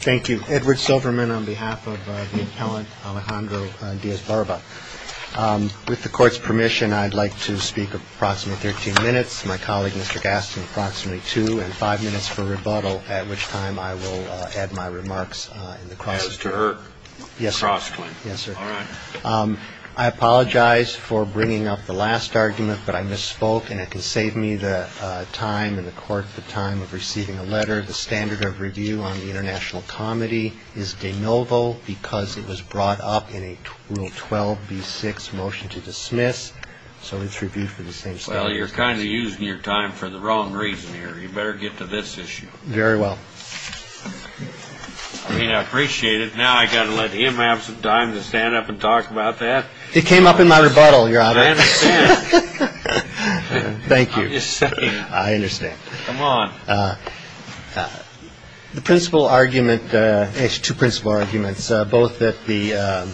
Thank you. Edward Silverman on behalf of the appellant Alejandro Diaz-Barba. With the court's permission, I'd like to speak approximately 13 minutes. My colleague, Mr. Gaston, approximately two and five minutes for rebuttal, at which time I will add my remarks in the cross- As to her? Yes, sir. Yes, sir. All right. I apologize for bringing up the last argument, but I misspoke, and it can save me the time in the court, the time of receiving a letter, the standard of review on the international comedy is de novo, because it was brought up in a rule 12B6 motion to dismiss. So it's reviewed for the same standard of review. Well, you're kind of using your time for the wrong reason here. You better get to this issue. Very well. I mean, I appreciate it. Now I gotta let him have some time to stand up and talk about that? It came up in my rebuttal, your honor. I understand. Thank you. I'm just saying. I understand. Come on. The principal argument, two principal arguments, both that the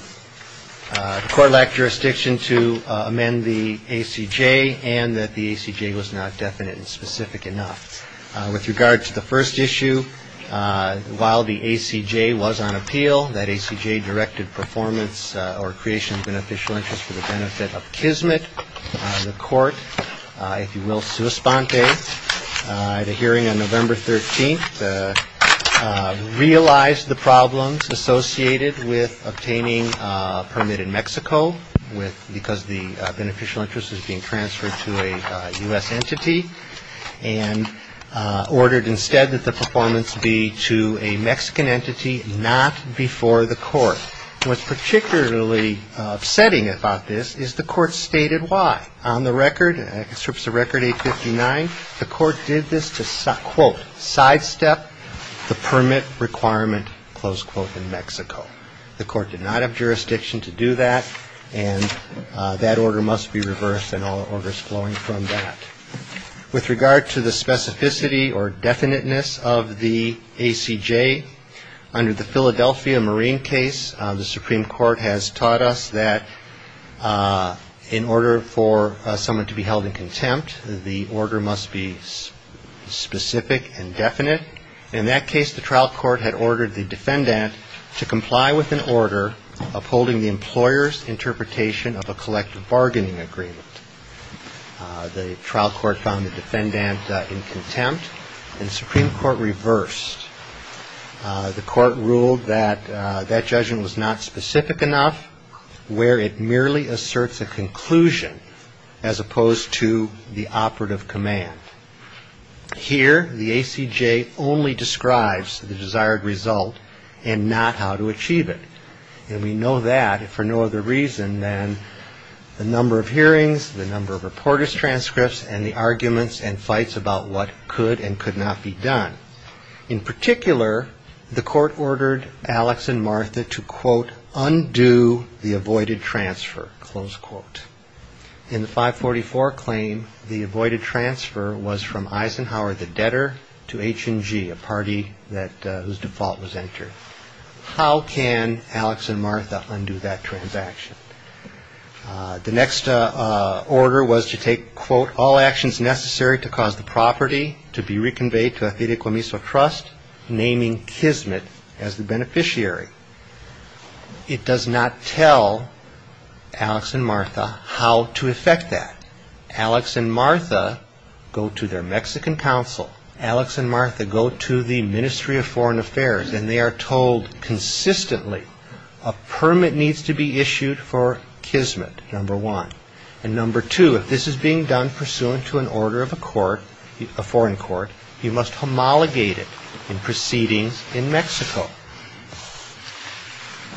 court lacked jurisdiction to amend the ACJ, and that the ACJ was not definite and specific enough. With regard to the first issue, while the ACJ was on appeal, that ACJ directed performance or creation of beneficial interest for the benefit of Kismet, the court, if you will, in Suespante, at a hearing on November 13th, realized the problems associated with obtaining a permit in Mexico, because the beneficial interest was being transferred to a US entity. And ordered instead that the performance be to a Mexican entity, not before the court. What's particularly upsetting about this is the court stated why. On the record, strips of record 859, the court did this to, quote, sidestep the permit requirement, close quote, in Mexico. The court did not have jurisdiction to do that, and that order must be reversed and all orders flowing from that. With regard to the specificity or definiteness of the ACJ, under the Philadelphia Marine case, the Supreme Court has taught us that in order for someone to be held in contempt, the order must be specific and definite. In that case, the trial court had ordered the defendant to comply with an order upholding the employer's interpretation of a collective bargaining agreement. The trial court found the defendant in contempt, and the Supreme Court reversed. The court ruled that that judgment was not specific enough, where it merely asserts a conclusion, as opposed to the operative command. Here, the ACJ only describes the desired result and not how to achieve it. And we know that for no other reason than the number of hearings, the number of reporter's transcripts, and the arguments and fights about what could and could not be done. In particular, the court ordered Alex and Martha to, quote, undo the avoided transfer, close quote. In the 544 claim, the avoided transfer was from Eisenhower, the debtor, to H&G, a party whose default was entered. How can Alex and Martha undo that transaction? The next order was to take, quote, all actions necessary to cause the property to be reconveyed to a Fideicomiso trust, naming Kismet as the beneficiary. It does not tell Alex and Martha how to effect that. Alex and Martha go to their Mexican counsel. Alex and Martha go to the Ministry of Foreign Affairs, and they are told consistently, a permit needs to be issued for Kismet, number one. And number two, if this is being done pursuant to an order of a court, a foreign court, you must homologate it in proceedings in Mexico.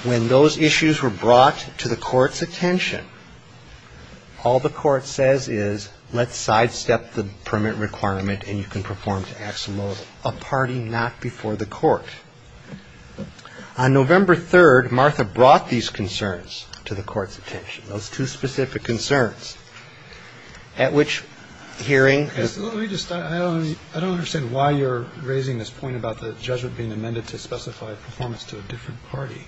When those issues were brought to the court's attention, all the court says is, let's sidestep the permit requirement and you can perform to aximo, a party not before the court. On November 3rd, Martha brought these concerns to the court's attention, those two specific concerns, at which hearing. Let me just, I don't understand why you're raising this point about the judgment being amended to specify performance to a different party.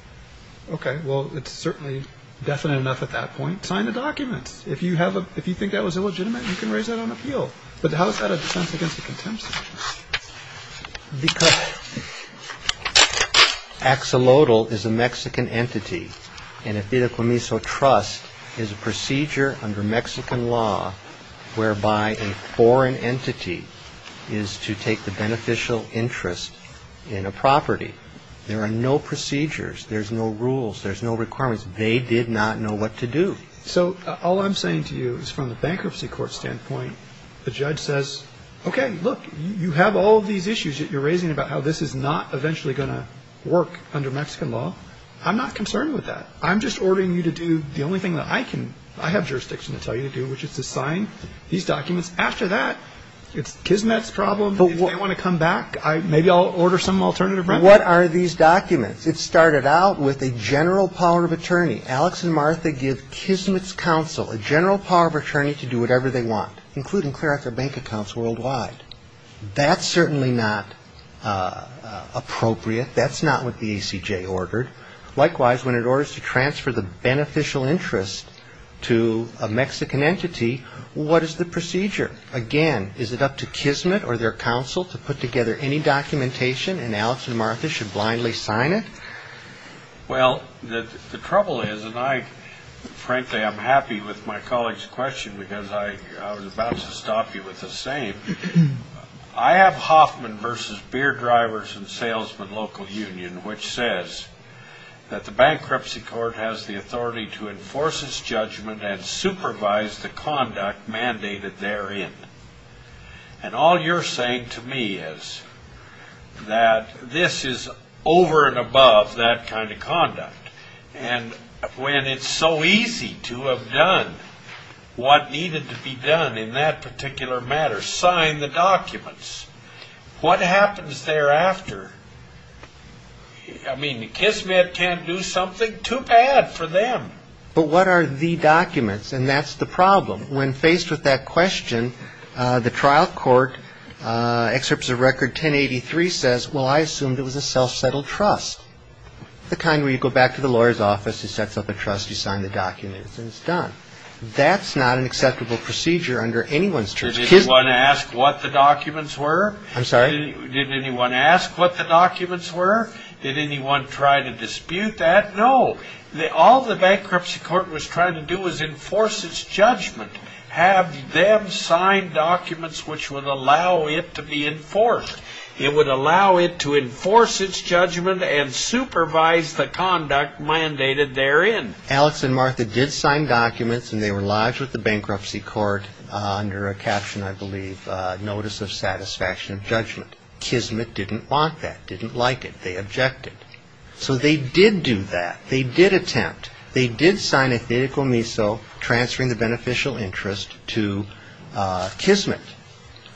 Okay, well, it's certainly definite enough at that point. Sign the documents. If you think that was illegitimate, you can raise that on appeal. But how is that a defense against a contempt suit? Because Axolotl is a Mexican entity, and a Fideicomiso trust is a procedure under Mexican law, whereby a foreign entity is to take the beneficial interest in a property. There are no procedures, there's no rules, there's no requirements. They did not know what to do. So all I'm saying to you is from the bankruptcy court standpoint, the judge says, okay, look, you have all these issues that you're raising about how this is not eventually going to work under Mexican law. I'm not concerned with that. I'm just ordering you to do the only thing that I can, I have jurisdiction to tell you to do, which is to sign these documents. After that, it's Kismet's problem. If they want to come back, maybe I'll order some alternative remedy. What are these documents? It started out with a general power of attorney. Alex and Martha give Kismet's counsel a general power of attorney to do whatever they want, including clear out their bank accounts worldwide. That's certainly not appropriate. That's not what the ACJ ordered. Likewise, when it orders to transfer the beneficial interest to a Mexican entity, what is the procedure? Again, is it up to Kismet or their counsel to put together any documentation, and Alex and Martha should blindly sign it? Well, the trouble is, and I, frankly, I'm happy with my colleague's question, because I was about to stop you with the same. I have Hoffman versus Beer Drivers and Salesmen Local Union, which says that the bankruptcy court has the authority to enforce its judgment and supervise the conduct mandated therein. And all you're saying to me is that this is over and above that kind of conduct. And when it's so easy to have done what needed to be done in that particular matter, just sign the documents, what happens thereafter? I mean, Kismet can't do something too bad for them. But what are the documents? And that's the problem. When faced with that question, the trial court, excerpts of record 1083 says, well, I assumed it was a self-settled trust. The kind where you go back to the lawyer's office, he sets up a trust, you sign the documents, and it's done. That's not an acceptable procedure under anyone's terms. Did anyone ask what the documents were? I'm sorry? Did anyone ask what the documents were? Did anyone try to dispute that? No. All the bankruptcy court was trying to do was enforce its judgment. Have them sign documents which would allow it to be enforced. It would allow it to enforce its judgment and supervise the conduct mandated therein. Alex and Martha did sign documents, and they were lodged with the bankruptcy court under a caption, I believe, Notice of Satisfaction of Judgment. Kismet didn't want that, didn't like it. They objected. So they did do that. They did attempt. They did sign a theoretical miso transferring the beneficial interest to Kismet.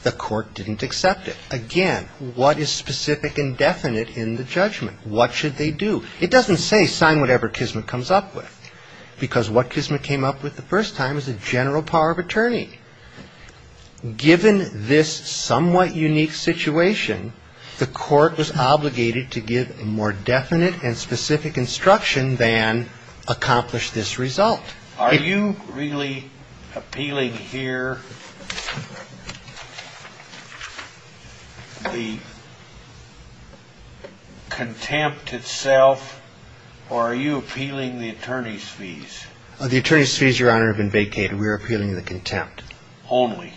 The court didn't accept it. Again, what is specific and definite in the judgment? What should they do? It doesn't say sign whatever Kismet comes up with, because what Kismet came up with the first time is a general power of attorney. Given this somewhat unique situation, the court was obligated to give more definite and specific instruction than accomplish this result. Are you really appealing here the contempt itself, or are you appealing the attorney's fees? The attorney's fees, Your Honor, have been vacated. We're appealing the contempt. Only?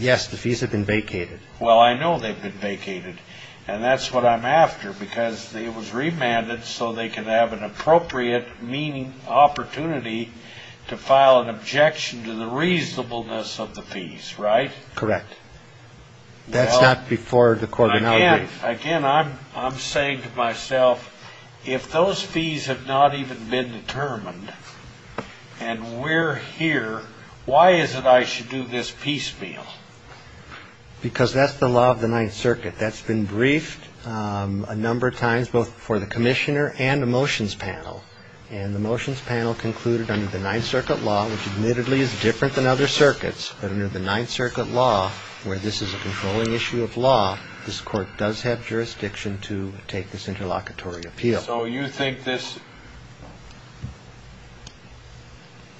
Yes, the fees have been vacated. Well, I know they've been vacated. And that's what I'm after, because it was remanded so they could have an appropriate opportunity to file an objection to the reasonableness of the fees, right? Correct. That's not before the court. Again, I'm saying to myself, if those fees have not even been determined, and we're here, why is it I should do this piecemeal? Because that's the law of the Ninth Circuit. That's been briefed a number of times, both for the commissioner and the motions panel. And the motions panel concluded under the Ninth Circuit law, which admittedly is different than other circuits, but under the Ninth Circuit law, where this is a controlling issue of law, this court does have jurisdiction to take this interlocutory appeal. So you think this...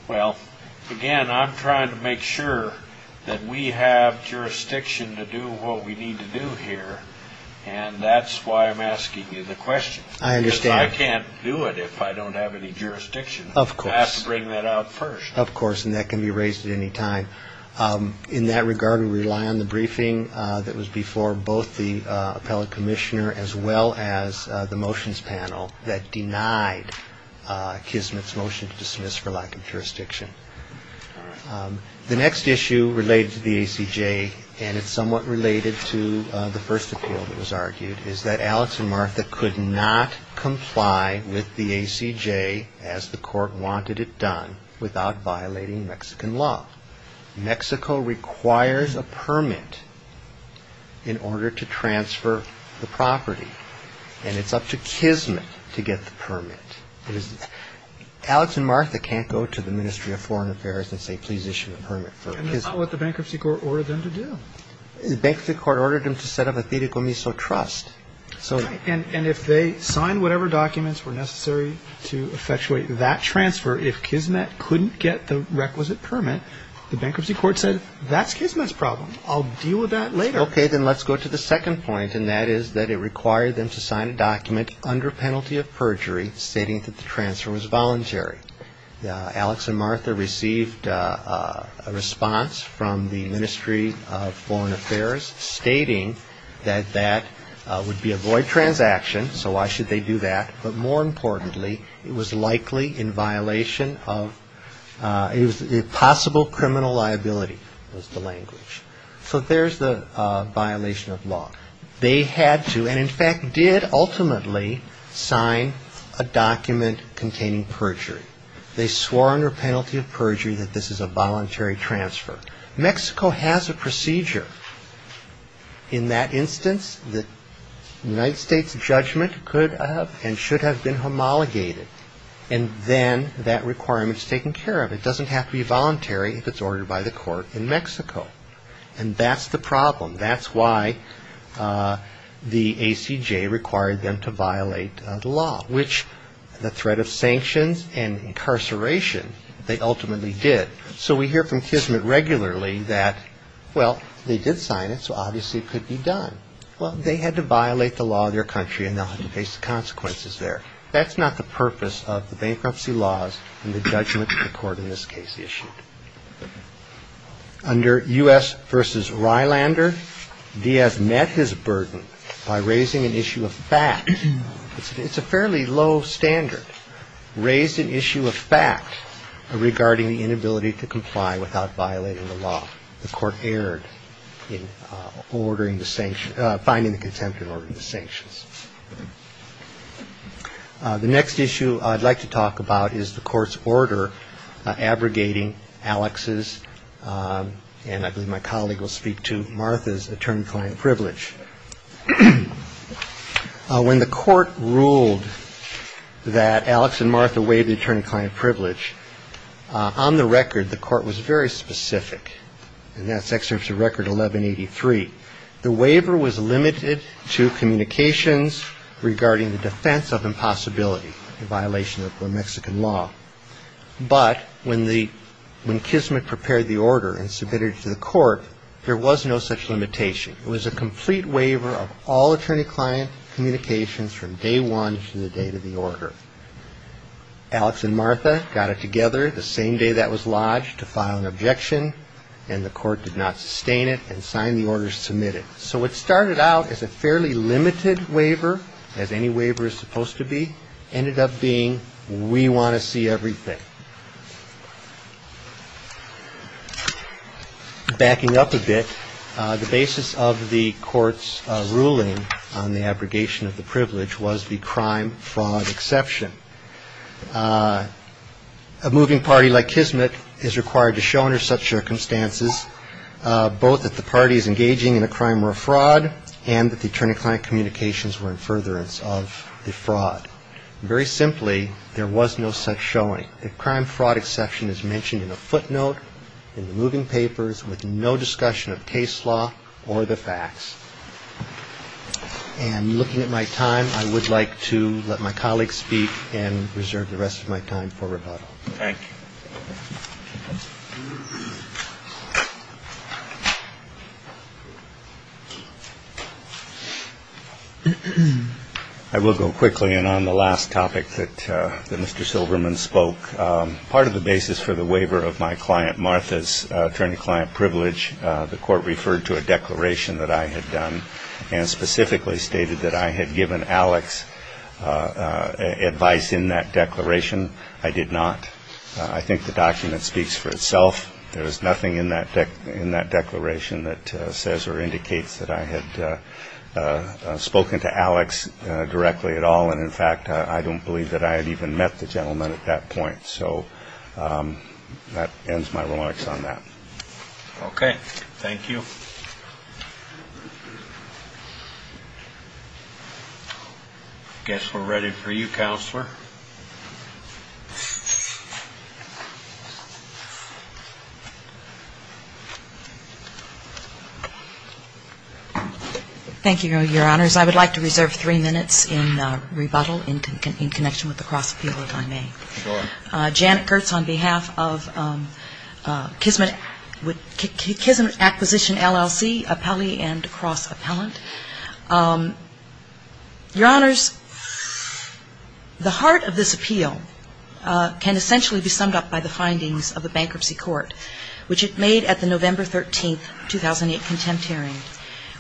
Well, again, I'm trying to make sure that we have jurisdiction to do what we need to do here. And that's why I'm asking you the question. I understand. I can't do it if I don't have any jurisdiction. Of course. I have to bring that out first. Of course. And that can be raised at any time. In that regard, we rely on the briefing that was before both the appellate commissioner as well as the motions panel that denied Kismet's motion to dismiss for lack of jurisdiction. The next issue related to the ACJ, and it's somewhat related to the first appeal that was with the ACJ as the court wanted it done without violating Mexican law. Mexico requires a permit in order to transfer the property. And it's up to Kismet to get the permit. It is... Alex and Martha can't go to the Ministry of Foreign Affairs and say, please issue a permit for Kismet. And that's not what the bankruptcy court ordered them to do. The bankruptcy court ordered them to set up a Tire Comiso Trust. And if they signed whatever documents were necessary to effectuate that transfer, if Kismet couldn't get the requisite permit, the bankruptcy court said, that's Kismet's problem. I'll deal with that later. Okay. Then let's go to the second point. And that is that it required them to sign a document under penalty of perjury, stating that the transfer was voluntary. Alex and Martha received a response from the Ministry of Foreign Affairs stating that that would be a void transaction. So why should they do that? But more importantly, it was likely in violation of... It was possible criminal liability was the language. So there's the violation of law. They had to, and in fact, did ultimately sign a document containing perjury. They swore under penalty of perjury that this is a voluntary transfer. Mexico has a procedure. In that instance, the United States judgment could have and should have been homologated. And then that requirement is taken care of. It doesn't have to be voluntary if it's ordered by the court in Mexico. And that's the problem. That's why the ACJ required them to violate the law, which the threat of sanctions and incarceration, they ultimately did. So we hear from Kismet regularly that, well, they did sign it, so obviously it could be done. Well, they had to violate the law of their country, and they'll have to face the consequences there. That's not the purpose of the bankruptcy laws and the judgment the court in this case issued. Under U.S. v. Rylander, he has met his burden by raising an issue of fact. It's a fairly low standard. Raised an issue of fact regarding the inability to comply without violating the law. The court erred in finding the contempt in order of the sanctions. The next issue I'd like to talk about is the court's order abrogating Alex's, and I believe my colleague will speak to Martha's, attorney-client privilege. When the court ruled that Alex and Martha waived the attorney-client privilege, on the record, the court was very specific, and that's Excerpt to Record 1183. The waiver was limited to communications regarding the defense of impossibility, a violation of Mexican law. But when Kismet prepared the order and submitted it to the court, there was no such limitation. It was a complete waiver of all attorney-client communications from day one to the date of the order. Alex and Martha got it together the same day that was lodged to file an objection, and the court did not sustain it and signed the order to submit it. So it started out as a fairly limited waiver, as any waiver is supposed to be, ended up being, we want to see everything. Backing up a bit, the basis of the court's ruling on the abrogation of the privilege was the crime-fraud exception. A moving party like Kismet is required to show under such circumstances both that the parties engaging in a crime were a fraud and that the attorney-client communications were in furtherance of the fraud. Very simply, there was no such showing. A crime-fraud exception is mentioned in a footnote in the moving papers with no discussion of case law or the facts. And looking at my time, I would like to let my colleague speak and reserve the rest of my time for rebuttal. Thank you. I will go quickly, and on the last topic that Mr. Silberman spoke, part of the basis for the waiver of my client Martha's attorney-client privilege, the court referred to a declaration that I had done and specifically stated that I had given Alex advice in that declaration. I did not. I think the document speaks for itself. There is nothing in that declaration that says or indicates that I had spoken to Alex directly at all, and in fact, I don't believe that I had even met the gentleman at that point. So that ends my remarks on that. Okay. Thank you. I guess we're ready for you, Counselor. Thank you, Your Honors. I would like to reserve three minutes in rebuttal in connection with the cross-appeal if I may. Sure. Janet Gertz on behalf of Kismet Acquisition, LLC, Appellee and Cross-Appellant. Your Honors, the heart of this appeal can essentially be summed up by the findings of the bankruptcy case. which it made at the November 13, 2008, contempt hearing,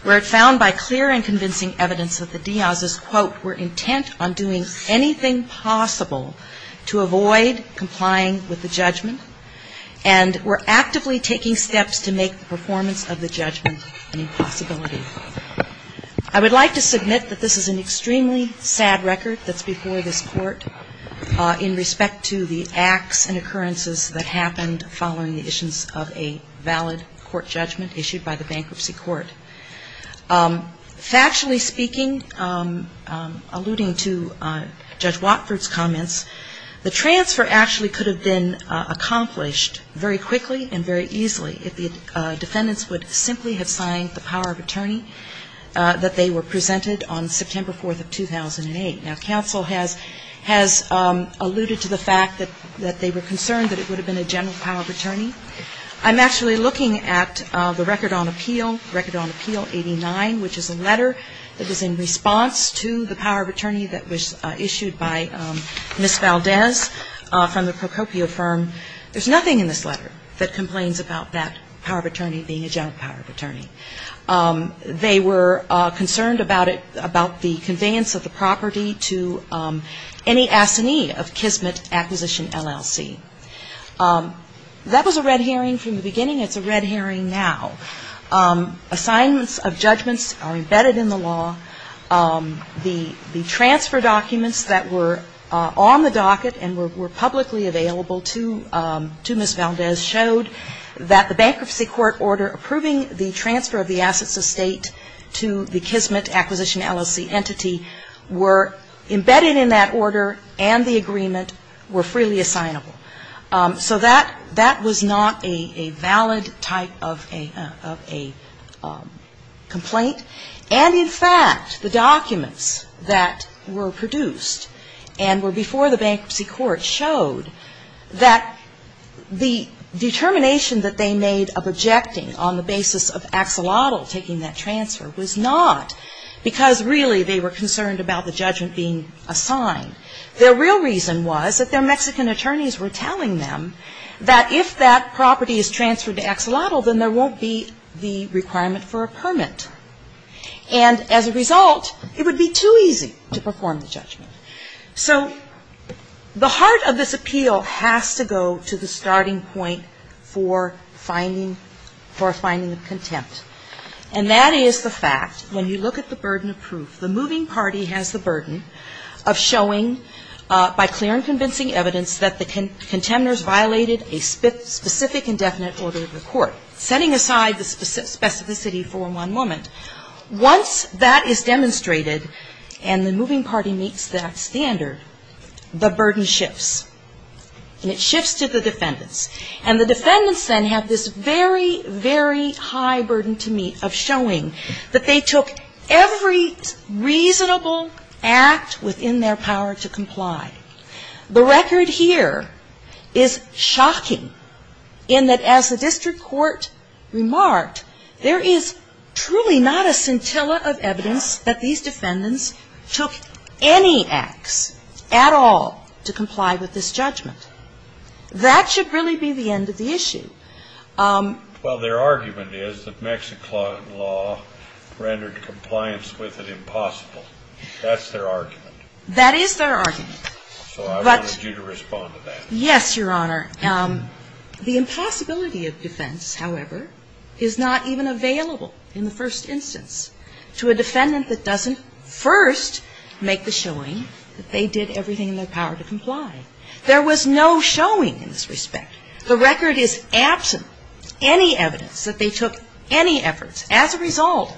where it found by clear and convincing evidence that the Diaz's, quote, were intent on doing anything possible to avoid complying with the judgment and were actively taking steps to make the performance of the judgment an impossibility. I would like to submit that this is an extremely sad record that's before this court in respect to the acts and occurrences that happened following the issues of a valid court judgment issued by the Bankruptcy Court. Factually speaking, alluding to Judge Watford's comments, the transfer actually could have been accomplished very quickly and very easily if the defendants would simply have signed the power of attorney that they were presented on September 4, 2008. Now, counsel has alluded to the fact that they were concerned that it would have been a general power of attorney. I'm actually looking at the record on appeal, record on appeal 89, which is a letter that was in response to the power of attorney that was issued by Ms. Valdez from the Procopio firm. There's nothing in this letter that complains about that power of attorney being a general power of attorney. They were concerned about it, about the conveyance of the property to any assignee of Kismet Acquisition, LLC. That was a red herring from the beginning. It's a red herring now. Assignments of judgments are embedded in the law. The transfer documents that were on the docket and were publicly available to the bankruptcy court order approving the transfer of the assets of state to the Kismet Acquisition, LLC entity were embedded in that order and the agreement were freely assignable. So that was not a valid type of a complaint. And in fact, the documents that were produced and were before the bankruptcy court showed that the determination that they made of objecting on the basis of Axelotl taking that transfer was not, because really they were concerned about the judgment being assigned. Their real reason was that their Mexican attorneys were telling them that if that property is transferred to Axelotl, then there won't be the requirement for a permit. And as a result, it would be too easy to perform the judgment. So the heart of this appeal has to go to the starting point for finding the contempt. And that is the fact, when you look at the burden of proof, the moving party has the burden of showing by clear and convincing evidence that the contenders violated a specific indefinite order of the court, setting aside the specificity for one moment. Once that is demonstrated and the moving party meets that standard, the burden shifts. And it shifts to the defendants. And the defendants then have this very, very high burden to meet of showing that they took every reasonable act within their power to comply. The record here is shocking in that as the district court remarked, there is truly not a scintilla of evidence that these defendants took any acts at all to comply with this judgment. That should really be the end of the issue. Well, their argument is that Mexican law rendered compliance with it impossible. That's their argument. That is their argument. So I would urge you to respond to that. Yes, Your Honor. The impossibility of defense, however, is not even available in the first instance to a defendant that doesn't first make the showing that they did everything in their power to comply. There was no showing in this respect. The record is absent any evidence that they took any efforts. As a result,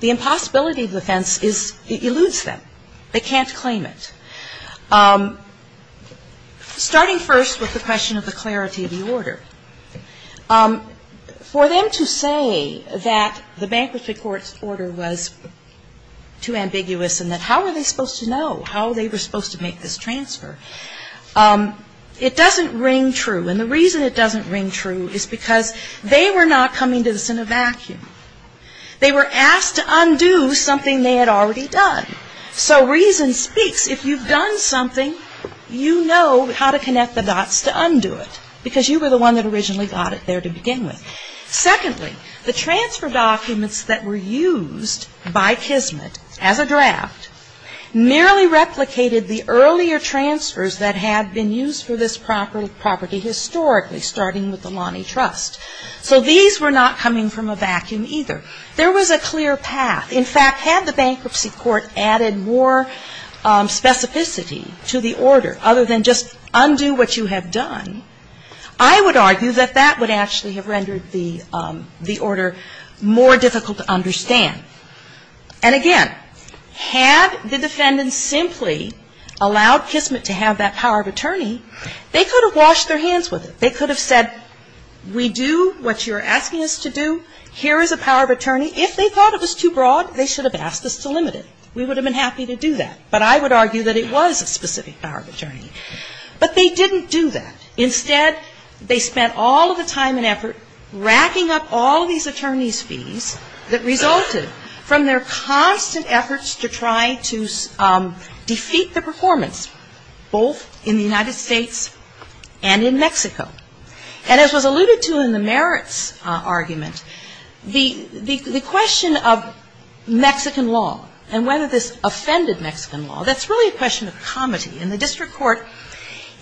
the impossibility of defense is, it eludes them. They can't claim it. So starting first with the question of the clarity of the order, for them to say that the bankruptcy court's order was too ambiguous and that how were they supposed to know how they were supposed to make this transfer, it doesn't ring true. And the reason it doesn't ring true is because they were not coming to this in a vacuum. They were asked to undo something they had already done. So reason speaks. If you've done something, you know how to connect the dots to undo it because you were the one that originally got it there to begin with. Secondly, the transfer documents that were used by Kismet as a draft merely replicated the earlier transfers that had been used for this property historically, starting with the Lonnie Trust. So these were not coming from a vacuum either. There was a clear path. In fact, had the bankruptcy court added more specificity to the order other than just undo what you have done, I would argue that that would actually have rendered the order more difficult to understand. And again, had the defendants simply allowed Kismet to have that power of attorney, they could have washed their hands with it. They could have said, we do what you're asking us to do. Here is a power of attorney. If they thought it was too broad, they should have asked us to limit it. We would have been happy to do that. But I would argue that it was a specific power of attorney. But they didn't do that. Instead, they spent all of the time and effort racking up all of these attorney's fees that resulted from their constant efforts to try to defeat the performance both in the United States and in Mexico. And as was alluded to in the merits argument, the question of Mexican law and whether this offended Mexican law, that's really a question of comedy. And the district court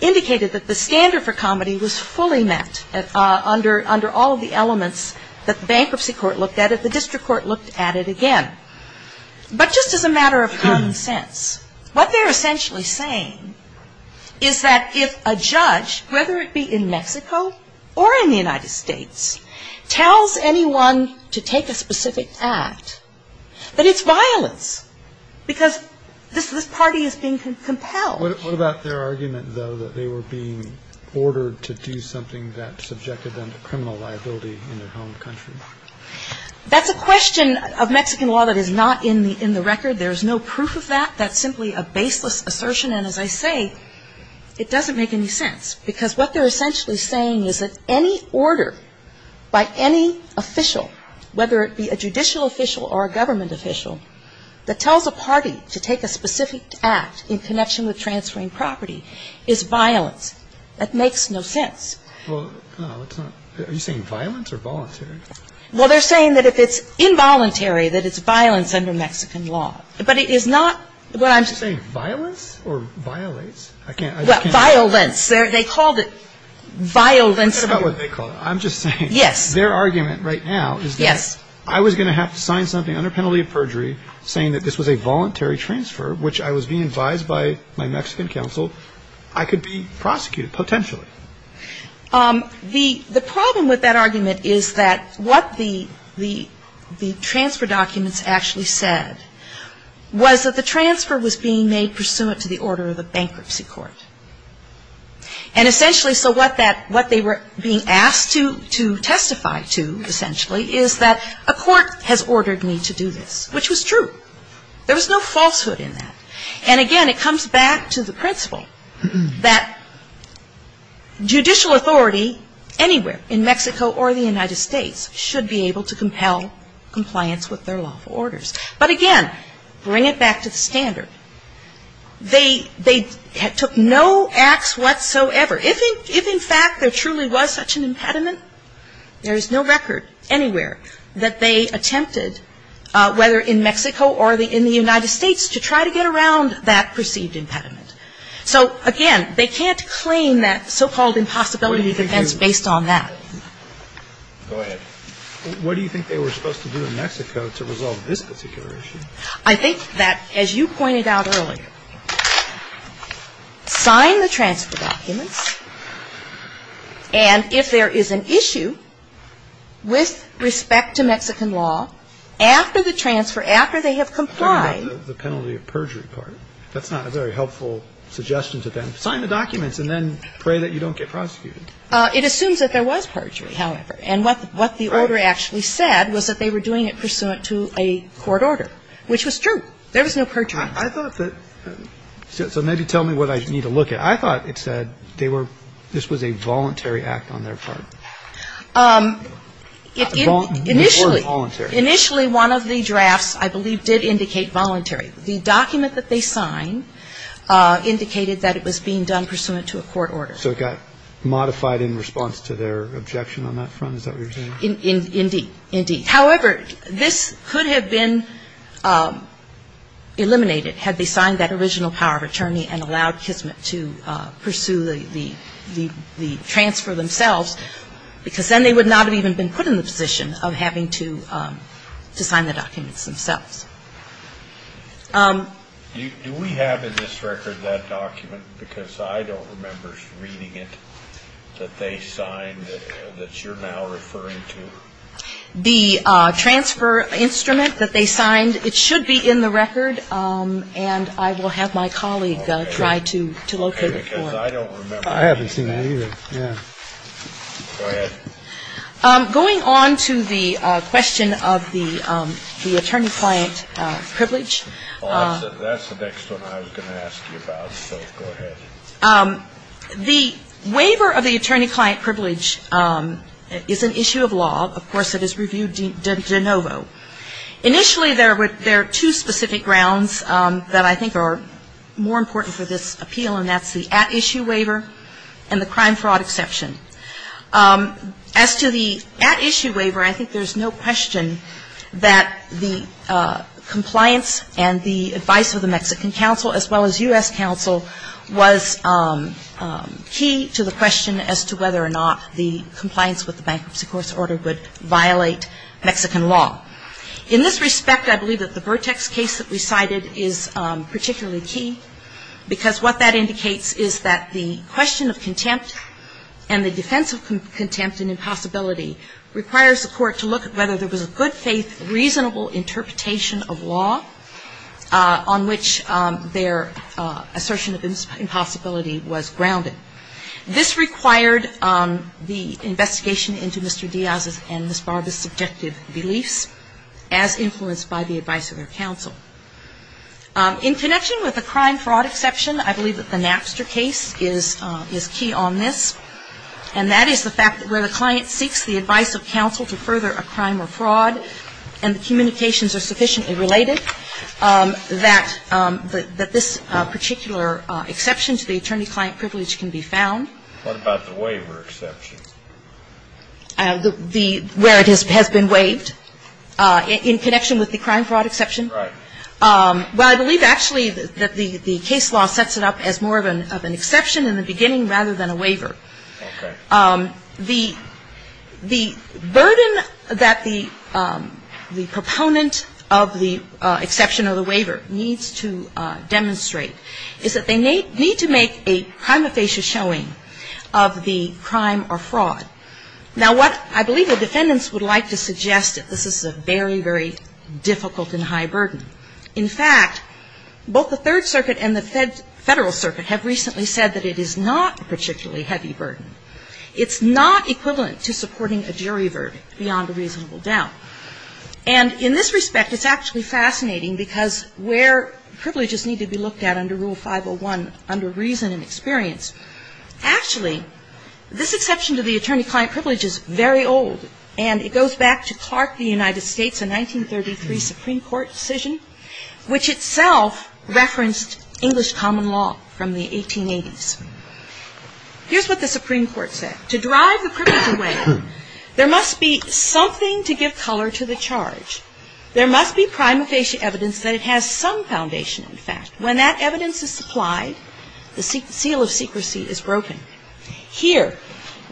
indicated that the standard for comedy was fully met under all of the elements that the bankruptcy court looked at. If the district court looked at it again. But just as a matter of common sense, what they're essentially saying is that if a judge, whether it be in Mexico or in the United States, tells anyone to take a specific act, that it's violence. Because this party is being compelled. What about their argument, though, that they were being ordered to do something that subjected them to criminal liability in their home country? That's a question of Mexican law that is not in the record. There is no proof of that. That's simply a baseless assertion. And as I say, it doesn't make any sense. Because what they're essentially saying is that any order by any official, whether it be a judicial official or a government official, that tells a party to take a specific act in connection with transferring property is violence. That makes no sense. Well, are you saying violence or voluntary? Well, they're saying that if it's involuntary, that it's violence under Mexican law. But it is not. I'm just saying violence or violates. I can't. Well, violence. They called it violence. I don't care about what they called it. I'm just saying. Yes. Their argument right now is that I was going to have to sign something under penalty of perjury saying that this was a voluntary transfer, which I was being advised by my Mexican counsel, I could be prosecuted, potentially. The problem with that argument is that what the transfer documents actually said was that the transfer was being made pursuant to the order of the bankruptcy court. And essentially, so what they were being asked to testify to, essentially, is that a court has ordered me to do this, which was true. There was no falsehood in that. And again, it comes back to the principle that judicial authority anywhere in Mexico or the United States should be able to compel compliance with their lawful rights. But again, bring it back to the standard. They took no ax whatsoever. If in fact there truly was such an impediment, there is no record anywhere that they attempted, whether in Mexico or in the United States, to try to get around that perceived impediment. So again, they can't claim that so-called impossibility defense based on that. Go ahead. What do you think they were supposed to do in Mexico to resolve this particular issue? I think that, as you pointed out earlier, sign the transfer documents. And if there is an issue with respect to Mexican law, after the transfer, after they have complied. I'm talking about the penalty of perjury part. That's not a very helpful suggestion to them. Sign the documents and then pray that you don't get prosecuted. It assumes that there was perjury, however. And what the order actually said was that they were doing it pursuant to a court order, which was true. There was no perjury. I thought that, so maybe tell me what I need to look at. I thought it said they were, this was a voluntary act on their part. Initially, one of the drafts, I believe, did indicate voluntary. The document that they signed indicated that it was being done pursuant to a court order. So it got modified in response to their objection on that front? Is that what you're saying? Indeed. Indeed. However, this could have been eliminated had they signed that original power of attorney and allowed Kismet to pursue the transfer themselves, because then they would not have even been put in the position of having to sign the documents themselves. Do we have in this record that document, because I don't remember reading it, that they signed that you're now referring to? The transfer instrument that they signed, it should be in the record, and I will have my colleague try to locate it for me. Okay, because I don't remember seeing that. I haven't seen that either. Go ahead. Going on to the question of the attorney-client privilege. That's the next one I was going to ask you about, so go ahead. The waiver of the attorney-client privilege is an issue of law. Of course, it is reviewed de novo. Initially, there are two specific grounds that I think are more important for this appeal, and that's the at-issue waiver and the crime-fraud exception. As to the at-issue waiver, I think there's no question that the compliance and the advice of the Mexican counsel as well as U.S. counsel was key to the question as to whether or not the compliance with the bankruptcy court's order would violate Mexican law. In this respect, I believe that the Vertex case that we cited is particularly key because what that indicates is that the question of contempt and the defense of contempt and impossibility requires the court to look at whether there was a good-faith, reasonable interpretation of law on which their assertion of impossibility was grounded. This required the investigation into Mr. Diaz's and Ms. Barb's subjective beliefs as influenced by the advice of their counsel. In connection with the crime-fraud exception, I believe that the Napster case is key on this, and that is the fact that where the client seeks the advice of counsel to further a crime or fraud and the communications are sufficiently related, that this particular exception to the attorney-client privilege can be found. What about the waiver exception? Where it has been waived. In connection with the crime-fraud exception. Well, I believe actually that the case law sets it up as more of an exception in the beginning rather than a waiver. The burden that the proponent of the exception of the waiver needs to demonstrate is that they need to make a prima facie showing of the crime or fraud. Now, what I believe the defendants would like to suggest, this is a very, very difficult and high burden. In fact, both the Third Circuit and the Federal Circuit have recently said that it is not a particularly heavy burden. It's not equivalent to supporting a jury verdict beyond a reasonable doubt. And in this respect, it's actually fascinating because where privileges need to be looked at under Rule 501, under reason and experience, actually, this exception to the attorney-client privilege is very old, and it goes back to Clark, the United States, a 1933 Supreme Court decision which itself referenced English common law from the 1880s. Here's what the Supreme Court said. To drive the privilege away, there must be something to give color to the charge. There must be prima facie evidence that it has some foundation, in fact. When that evidence is supplied, the seal of secrecy is broken. Here,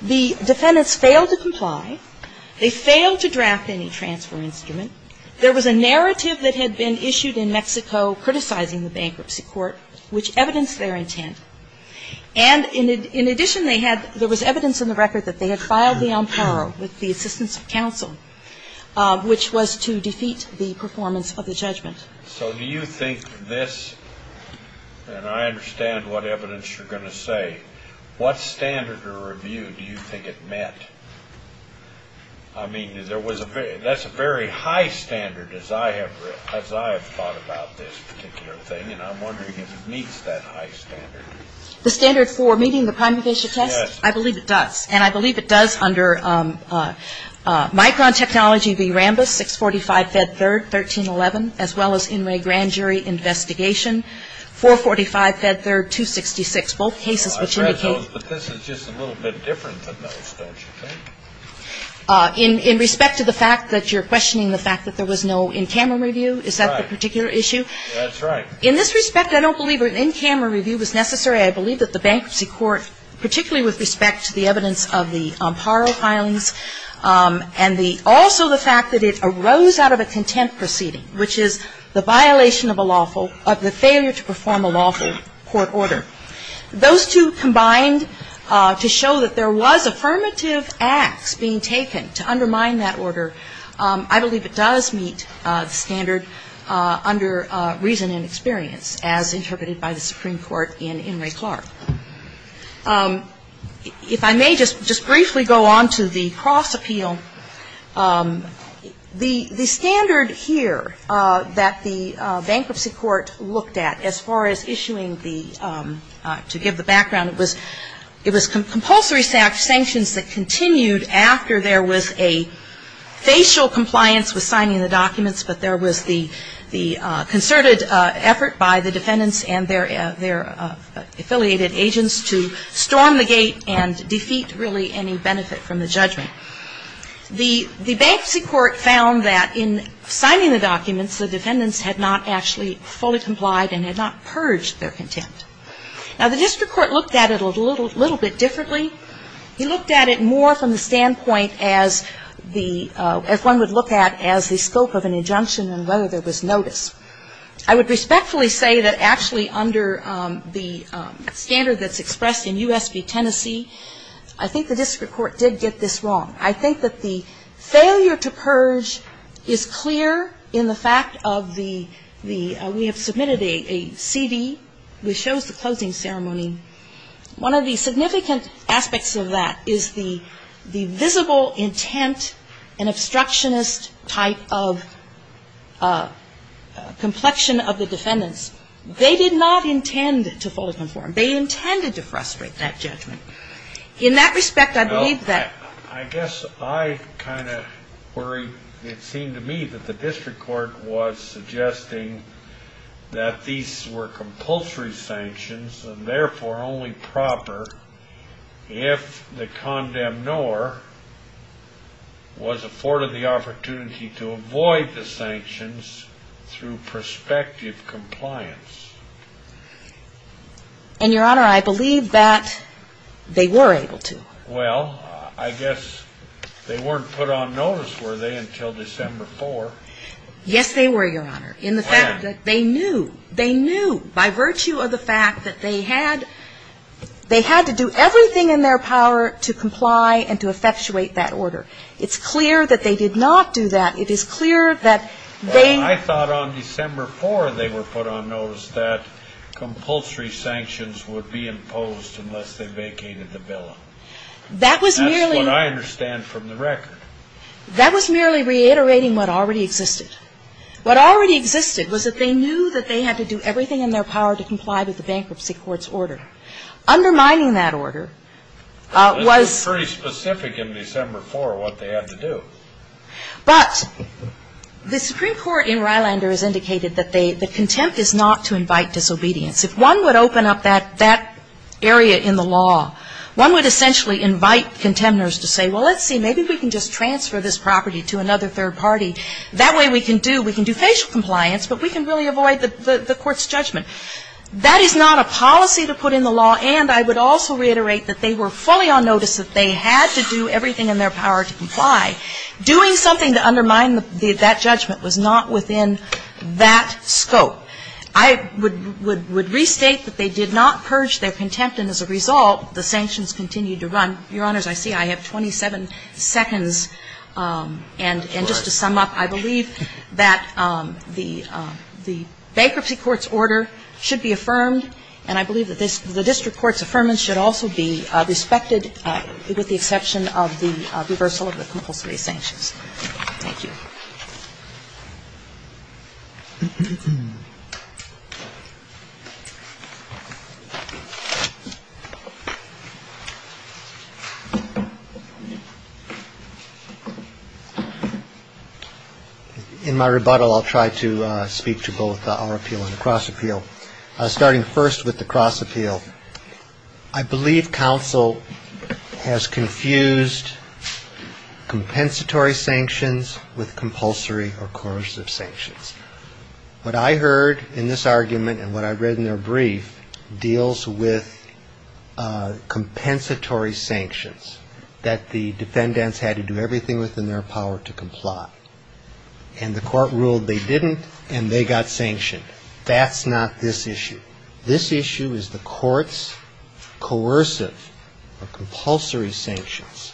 the defendants fail to comply. They fail to draft any transfer instrument. There was a narrative that had been issued in Mexico criticizing the bankruptcy court, which evidenced their intent. And in addition, they had, there was evidence in the record that they had filed the amparo with the assistance of counsel, which was to defeat the performance of the judgment. So do you think this, and I understand what evidence you're going to say, what standard or review do you think it met? I mean, there was a very, that's a very high standard as I have, as I have thought about this particular thing, and I'm wondering if it meets that high standard. The standard for meeting the prima facie test? Yes. I believe it does, and I believe it does under Micron Technology v. Rambis, 645 Fed 3rd, 1311, as well as Inouye Grand Jury Investigation, 445 Fed 3rd, 266, both cases which indicate. But this is just a little bit different than those, don't you think? In respect to the fact that you're questioning the fact that there was no in-camera review, is that the particular issue? That's right. In this respect, I don't believe an in-camera review was necessary. I believe that the bankruptcy court, particularly with respect to the evidence of the amparo filings and the, also the fact that it arose out of a contempt proceeding, which is the violation of a lawful, of the failure to perform a lawful court order. Those two combined to show that there was affirmative acts being taken to undermine that order, I believe it does meet the standard under reason and experience, as interpreted by the Supreme Court in Inouye Clark. If I may just briefly go on to the cross appeal, the standard here that the bankruptcy court looked at as far as issuing the, to give the background, it was compulsory sanctions that continued after there was a facial compliance with signing the documents, but there was the concerted effort by the defendants and their affiliated agents to storm the gate and defeat really any benefit from the judgment. The bankruptcy court found that in signing the documents, the defendants had not actually fully complied and had not purged their contempt. Now, the district court looked at it a little bit differently. He looked at it more from the standpoint as the, as one would look at as the scope of an injunction and whether there was notice. I would respectfully say that actually under the standard that's expressed in U.S. v. Tennessee, I think the district court did get this wrong. I think that the failure to purge is clear in the fact of the, we have submitted a CD which shows the closing ceremony. One of the significant aspects of that is the visible intent and obstructionist type of complexion of the defendants. They did not intend to fully conform. They intended to frustrate that judgment. In that respect, I believe that... No, I guess I kind of worry. It seemed to me that the district court was suggesting that these were compulsory sanctions and therefore only proper if the condemnor was afforded the opportunity to avoid the sanctions through prospective compliance. And, Your Honor, I believe that they were able to. Well, I guess they weren't put on notice, were they, until December 4. Yes, they were, Your Honor. In the fact that they knew, they knew by virtue of the fact that they had, they had to do everything in their power to comply and to effectuate that order. It's clear that they did not do that. It is clear that they... But on December 4, they were put on notice that compulsory sanctions would be imposed unless they vacated the villa. That was merely... That's what I understand from the record. That was merely reiterating what already existed. What already existed was that they knew that they had to do everything in their power to comply with the bankruptcy court's order. Undermining that order was... It was pretty specific in December 4 what they had to do. But the Supreme Court in Rylander has indicated that contempt is not to invite disobedience. If one would open up that area in the law, one would essentially invite contenders to say, well, let's see, maybe we can just transfer this property to another third party. That way we can do, we can do facial compliance, but we can really avoid the court's judgment. That is not a policy to put in the law. And I would also reiterate that they were fully on notice that they had to do everything in their power to comply. Doing something to undermine that judgment was not within that scope. I would restate that they did not purge their contempt, and as a result, the sanctions continued to run. Your Honors, I see I have 27 seconds. And just to sum up, I believe that the bankruptcy court's order should be affirmed, and I believe that the district court's affirmance should also be respected with the exception of the reversal of the compulsory sanctions. Thank you. In my rebuttal, I'll try to speak to both our appeal and the cross appeal. Starting first with the cross appeal, I believe counsel has confused compensatory sanctions with compulsory or coercive sanctions. What I heard in this argument and what I read in their brief deals with compensatory sanctions, that the defendants had to do everything within their power to comply. And the court ruled they didn't, and they got sanctioned. That's not this issue. This issue is the court's coercive or compulsory sanctions.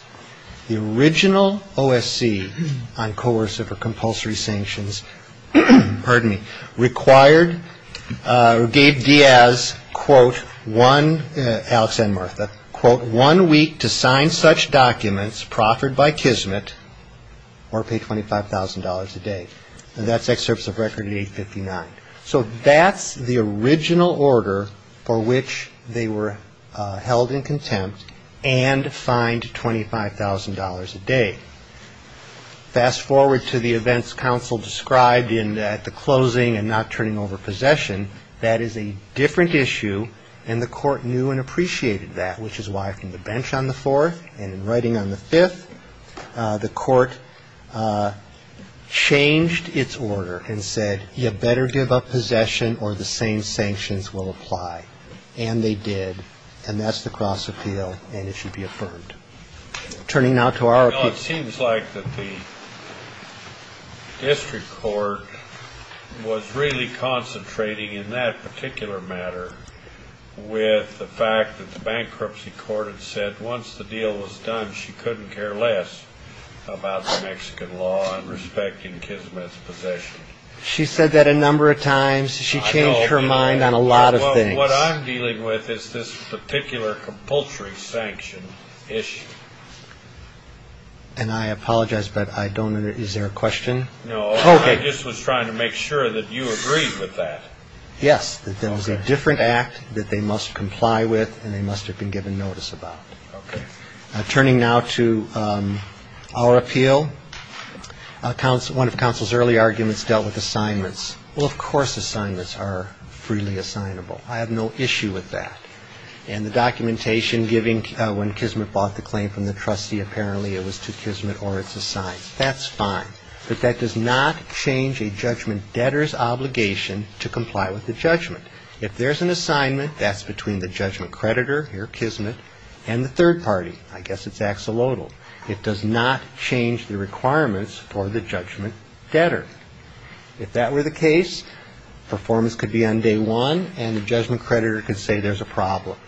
The original OSC on coercive or compulsory sanctions, pardon me, required, or gave Diaz, quote, one, Alex and Martha, quote, one week to sign such documents proffered by Kismet or pay $25,000 a day. And that's excerpts of record 859. So that's the original order for which they were held in contempt and fined $25,000 a day. Fast forward to the events counsel described in the closing and not turning over possession. That is a different issue, and the court knew and appreciated that, which is why from the bench on the fourth and in writing on the fifth, the court changed its order and said, you better give up possession or the same sanctions will apply. And they did. And that's the cross appeal. And it should be affirmed. Turning now to our... Well, it seems like that the district court was really concentrating in that particular matter with the fact that the bankruptcy court had said once the deal was done, she said that a number of times. She changed her mind on a lot of things. What I'm dealing with is this particular compulsory sanction issue. And I apologize, but I don't know. Is there a question? No, I just was trying to make sure that you agreed with that. Yes, that there was a different act that they must comply with and they must have been given notice about. Turning now to our appeal, one of counsel's early arguments dealt with assignments. Well, of course, assignments are freely assignable. I have no issue with that. And the documentation giving when Kismet bought the claim from the trustee, apparently it was to Kismet or it's assigned. That's fine. But that does not change a judgment debtor's obligation to comply with the judgment. If there's an assignment, that's between the judgment creditor here, Kismet, and the third party. I guess it's axolotl. It does not change the requirements for the judgment debtor. If that were the case, performance could be on day one and the judgment creditor could say there's a problem.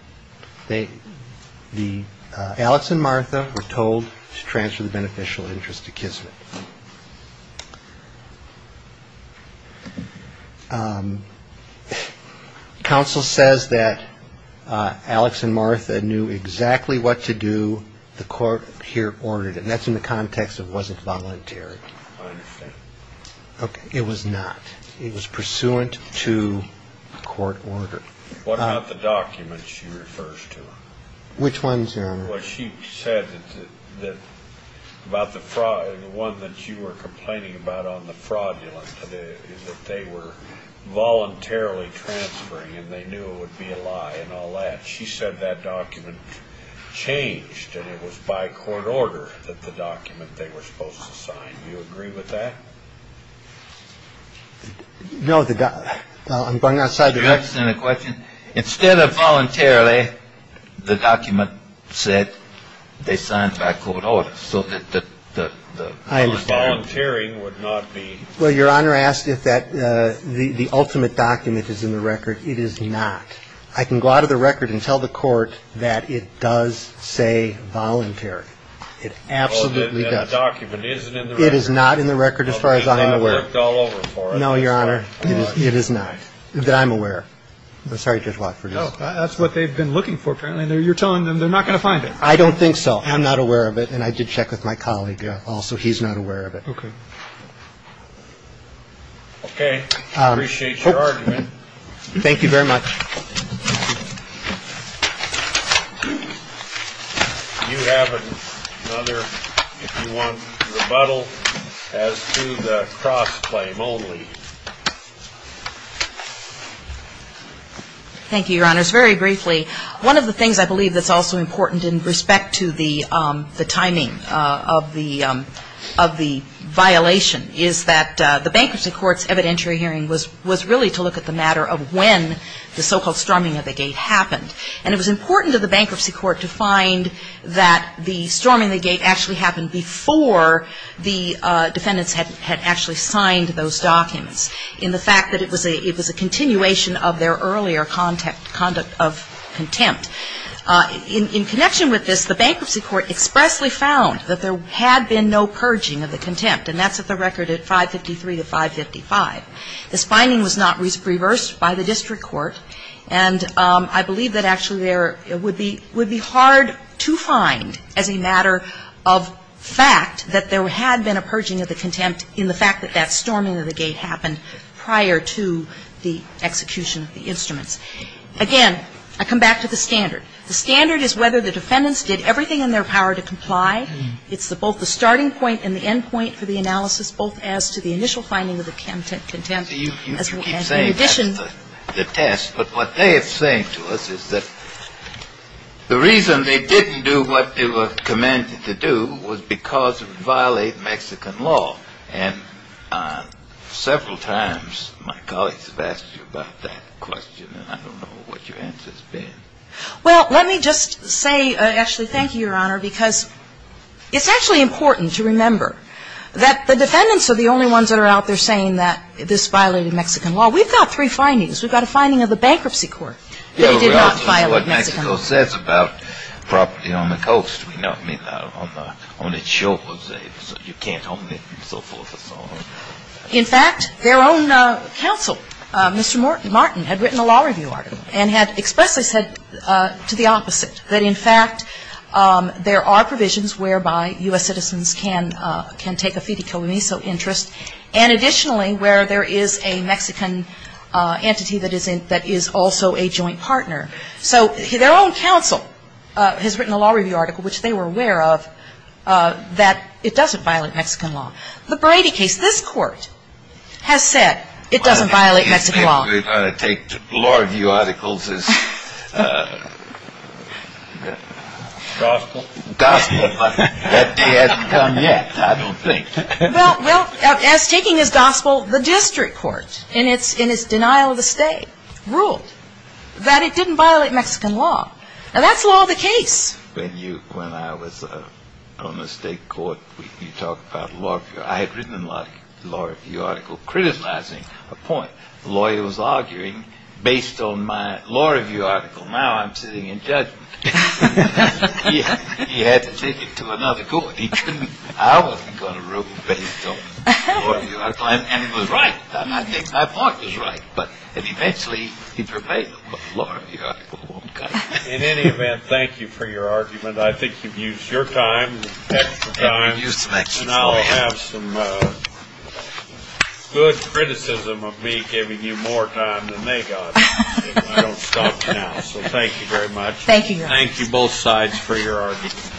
Alex and Martha were told to transfer the beneficial interest to Kismet. Counsel says that Alex and Martha knew exactly what to do. The court here ordered it. And that's in the context of was it voluntary. I understand. Okay. It was not. It was pursuant to court order. What about the documents she refers to? Which ones, Your Honor? Well, she said that about the fraud, the one that you were complaining about on the fraudulent is that they were voluntarily transferring and they knew it would be a lie and all that. She said that document changed and it was by court order that the document they were supposed to sign. Do you agree with that? No. I'm going outside the question. Instead of voluntarily, the document said they signed by court order. So the volunteering would not be. Well, Your Honor asked if that the ultimate document is in the record. It is not. I can go out of the record and tell the court that it does say voluntary. It absolutely does. The document isn't in the record. It is not in the record. As far as I'm aware. No, Your Honor. It is not that I'm aware. Sorry, Judge Watford. No, that's what they've been looking for. Apparently, you're telling them they're not going to find it. I don't think so. I'm not aware of it. And I did check with my colleague. Also, he's not aware of it. Okay. Okay. I appreciate your argument. Thank you very much. You have another, if you want, rebuttal as to the cross-claim only. Thank you, Your Honors. Very briefly, one of the things I believe that's also important in respect to the timing of the violation is that the bankruptcy court's evidentiary hearing was really to look at the matter of when the so-called storming of the gate happened. And it was important to the bankruptcy court to find that the storming of the gate actually happened before the defendants had actually signed those documents. In the fact that it was a continuation of their earlier conduct of contempt. In connection with this, the bankruptcy court expressly found that there had been no purging of the contempt. And that's at the record at 553 to 555. This finding was not reversed by the district court. And I believe that actually there would be hard to find as a matter of fact that there had been a purging of the contempt in the fact that that storming of the gate happened prior to the execution of the instruments. Again, I come back to the standard. The standard is whether the defendants did everything in their power to comply. It's both the starting point and the end point for the analysis, both as to the initial finding of the contempt. So you keep saying that's the test. But what they are saying to us is that the reason they didn't do what they were commanded to do was because it would violate Mexican law. And several times my colleagues have asked me about that question. And I don't know what your answer has been. Well, let me just say, Ashley, thank you, Your Honor, because it's actually important to remember that the defendants are the only ones that are out there saying that this violated Mexican law. We've got three findings. We've got a finding of the bankruptcy court that it did not violate Mexican law. It's what Mexico says about property on the coast. We know, I mean, on its shores, you can't own it and so forth and so on. In fact, their own counsel, Mr. Martin, had written a law review article and had expressly said to the opposite, that in fact, there are provisions whereby U.S. citizens can take a FIDICOMISO interest, and additionally, where there is a Mexican entity that is also a joint partner. So their own counsel has written a law review article, which they were aware of, that it doesn't violate Mexican law. The Brady case, this court has said it doesn't violate Mexican law. Well, he's basically trying to take law review articles as gospel. Gospel, but that hasn't come yet, I don't think. Well, as taking as gospel, the district court, in its denial of the state, ruled that it didn't violate Mexican law. Now, that's law of the case. When I was on the state court, you talked about law review. I had written a law review article criticizing a point. The lawyer was arguing, based on my law review article, now I'm sitting in judgment. He had to take it to another court. He couldn't, I wasn't going to rule based on a law review article, and he was right. I think my partner's right, but eventually he'd repay the law review article. In any event, thank you for your argument. I think you've used your time, extra time, and I'll have some good criticism of me giving you more time than they got, and I don't stop now. So thank you very much. Thank you, Your Honor. Thank you both sides for your argument.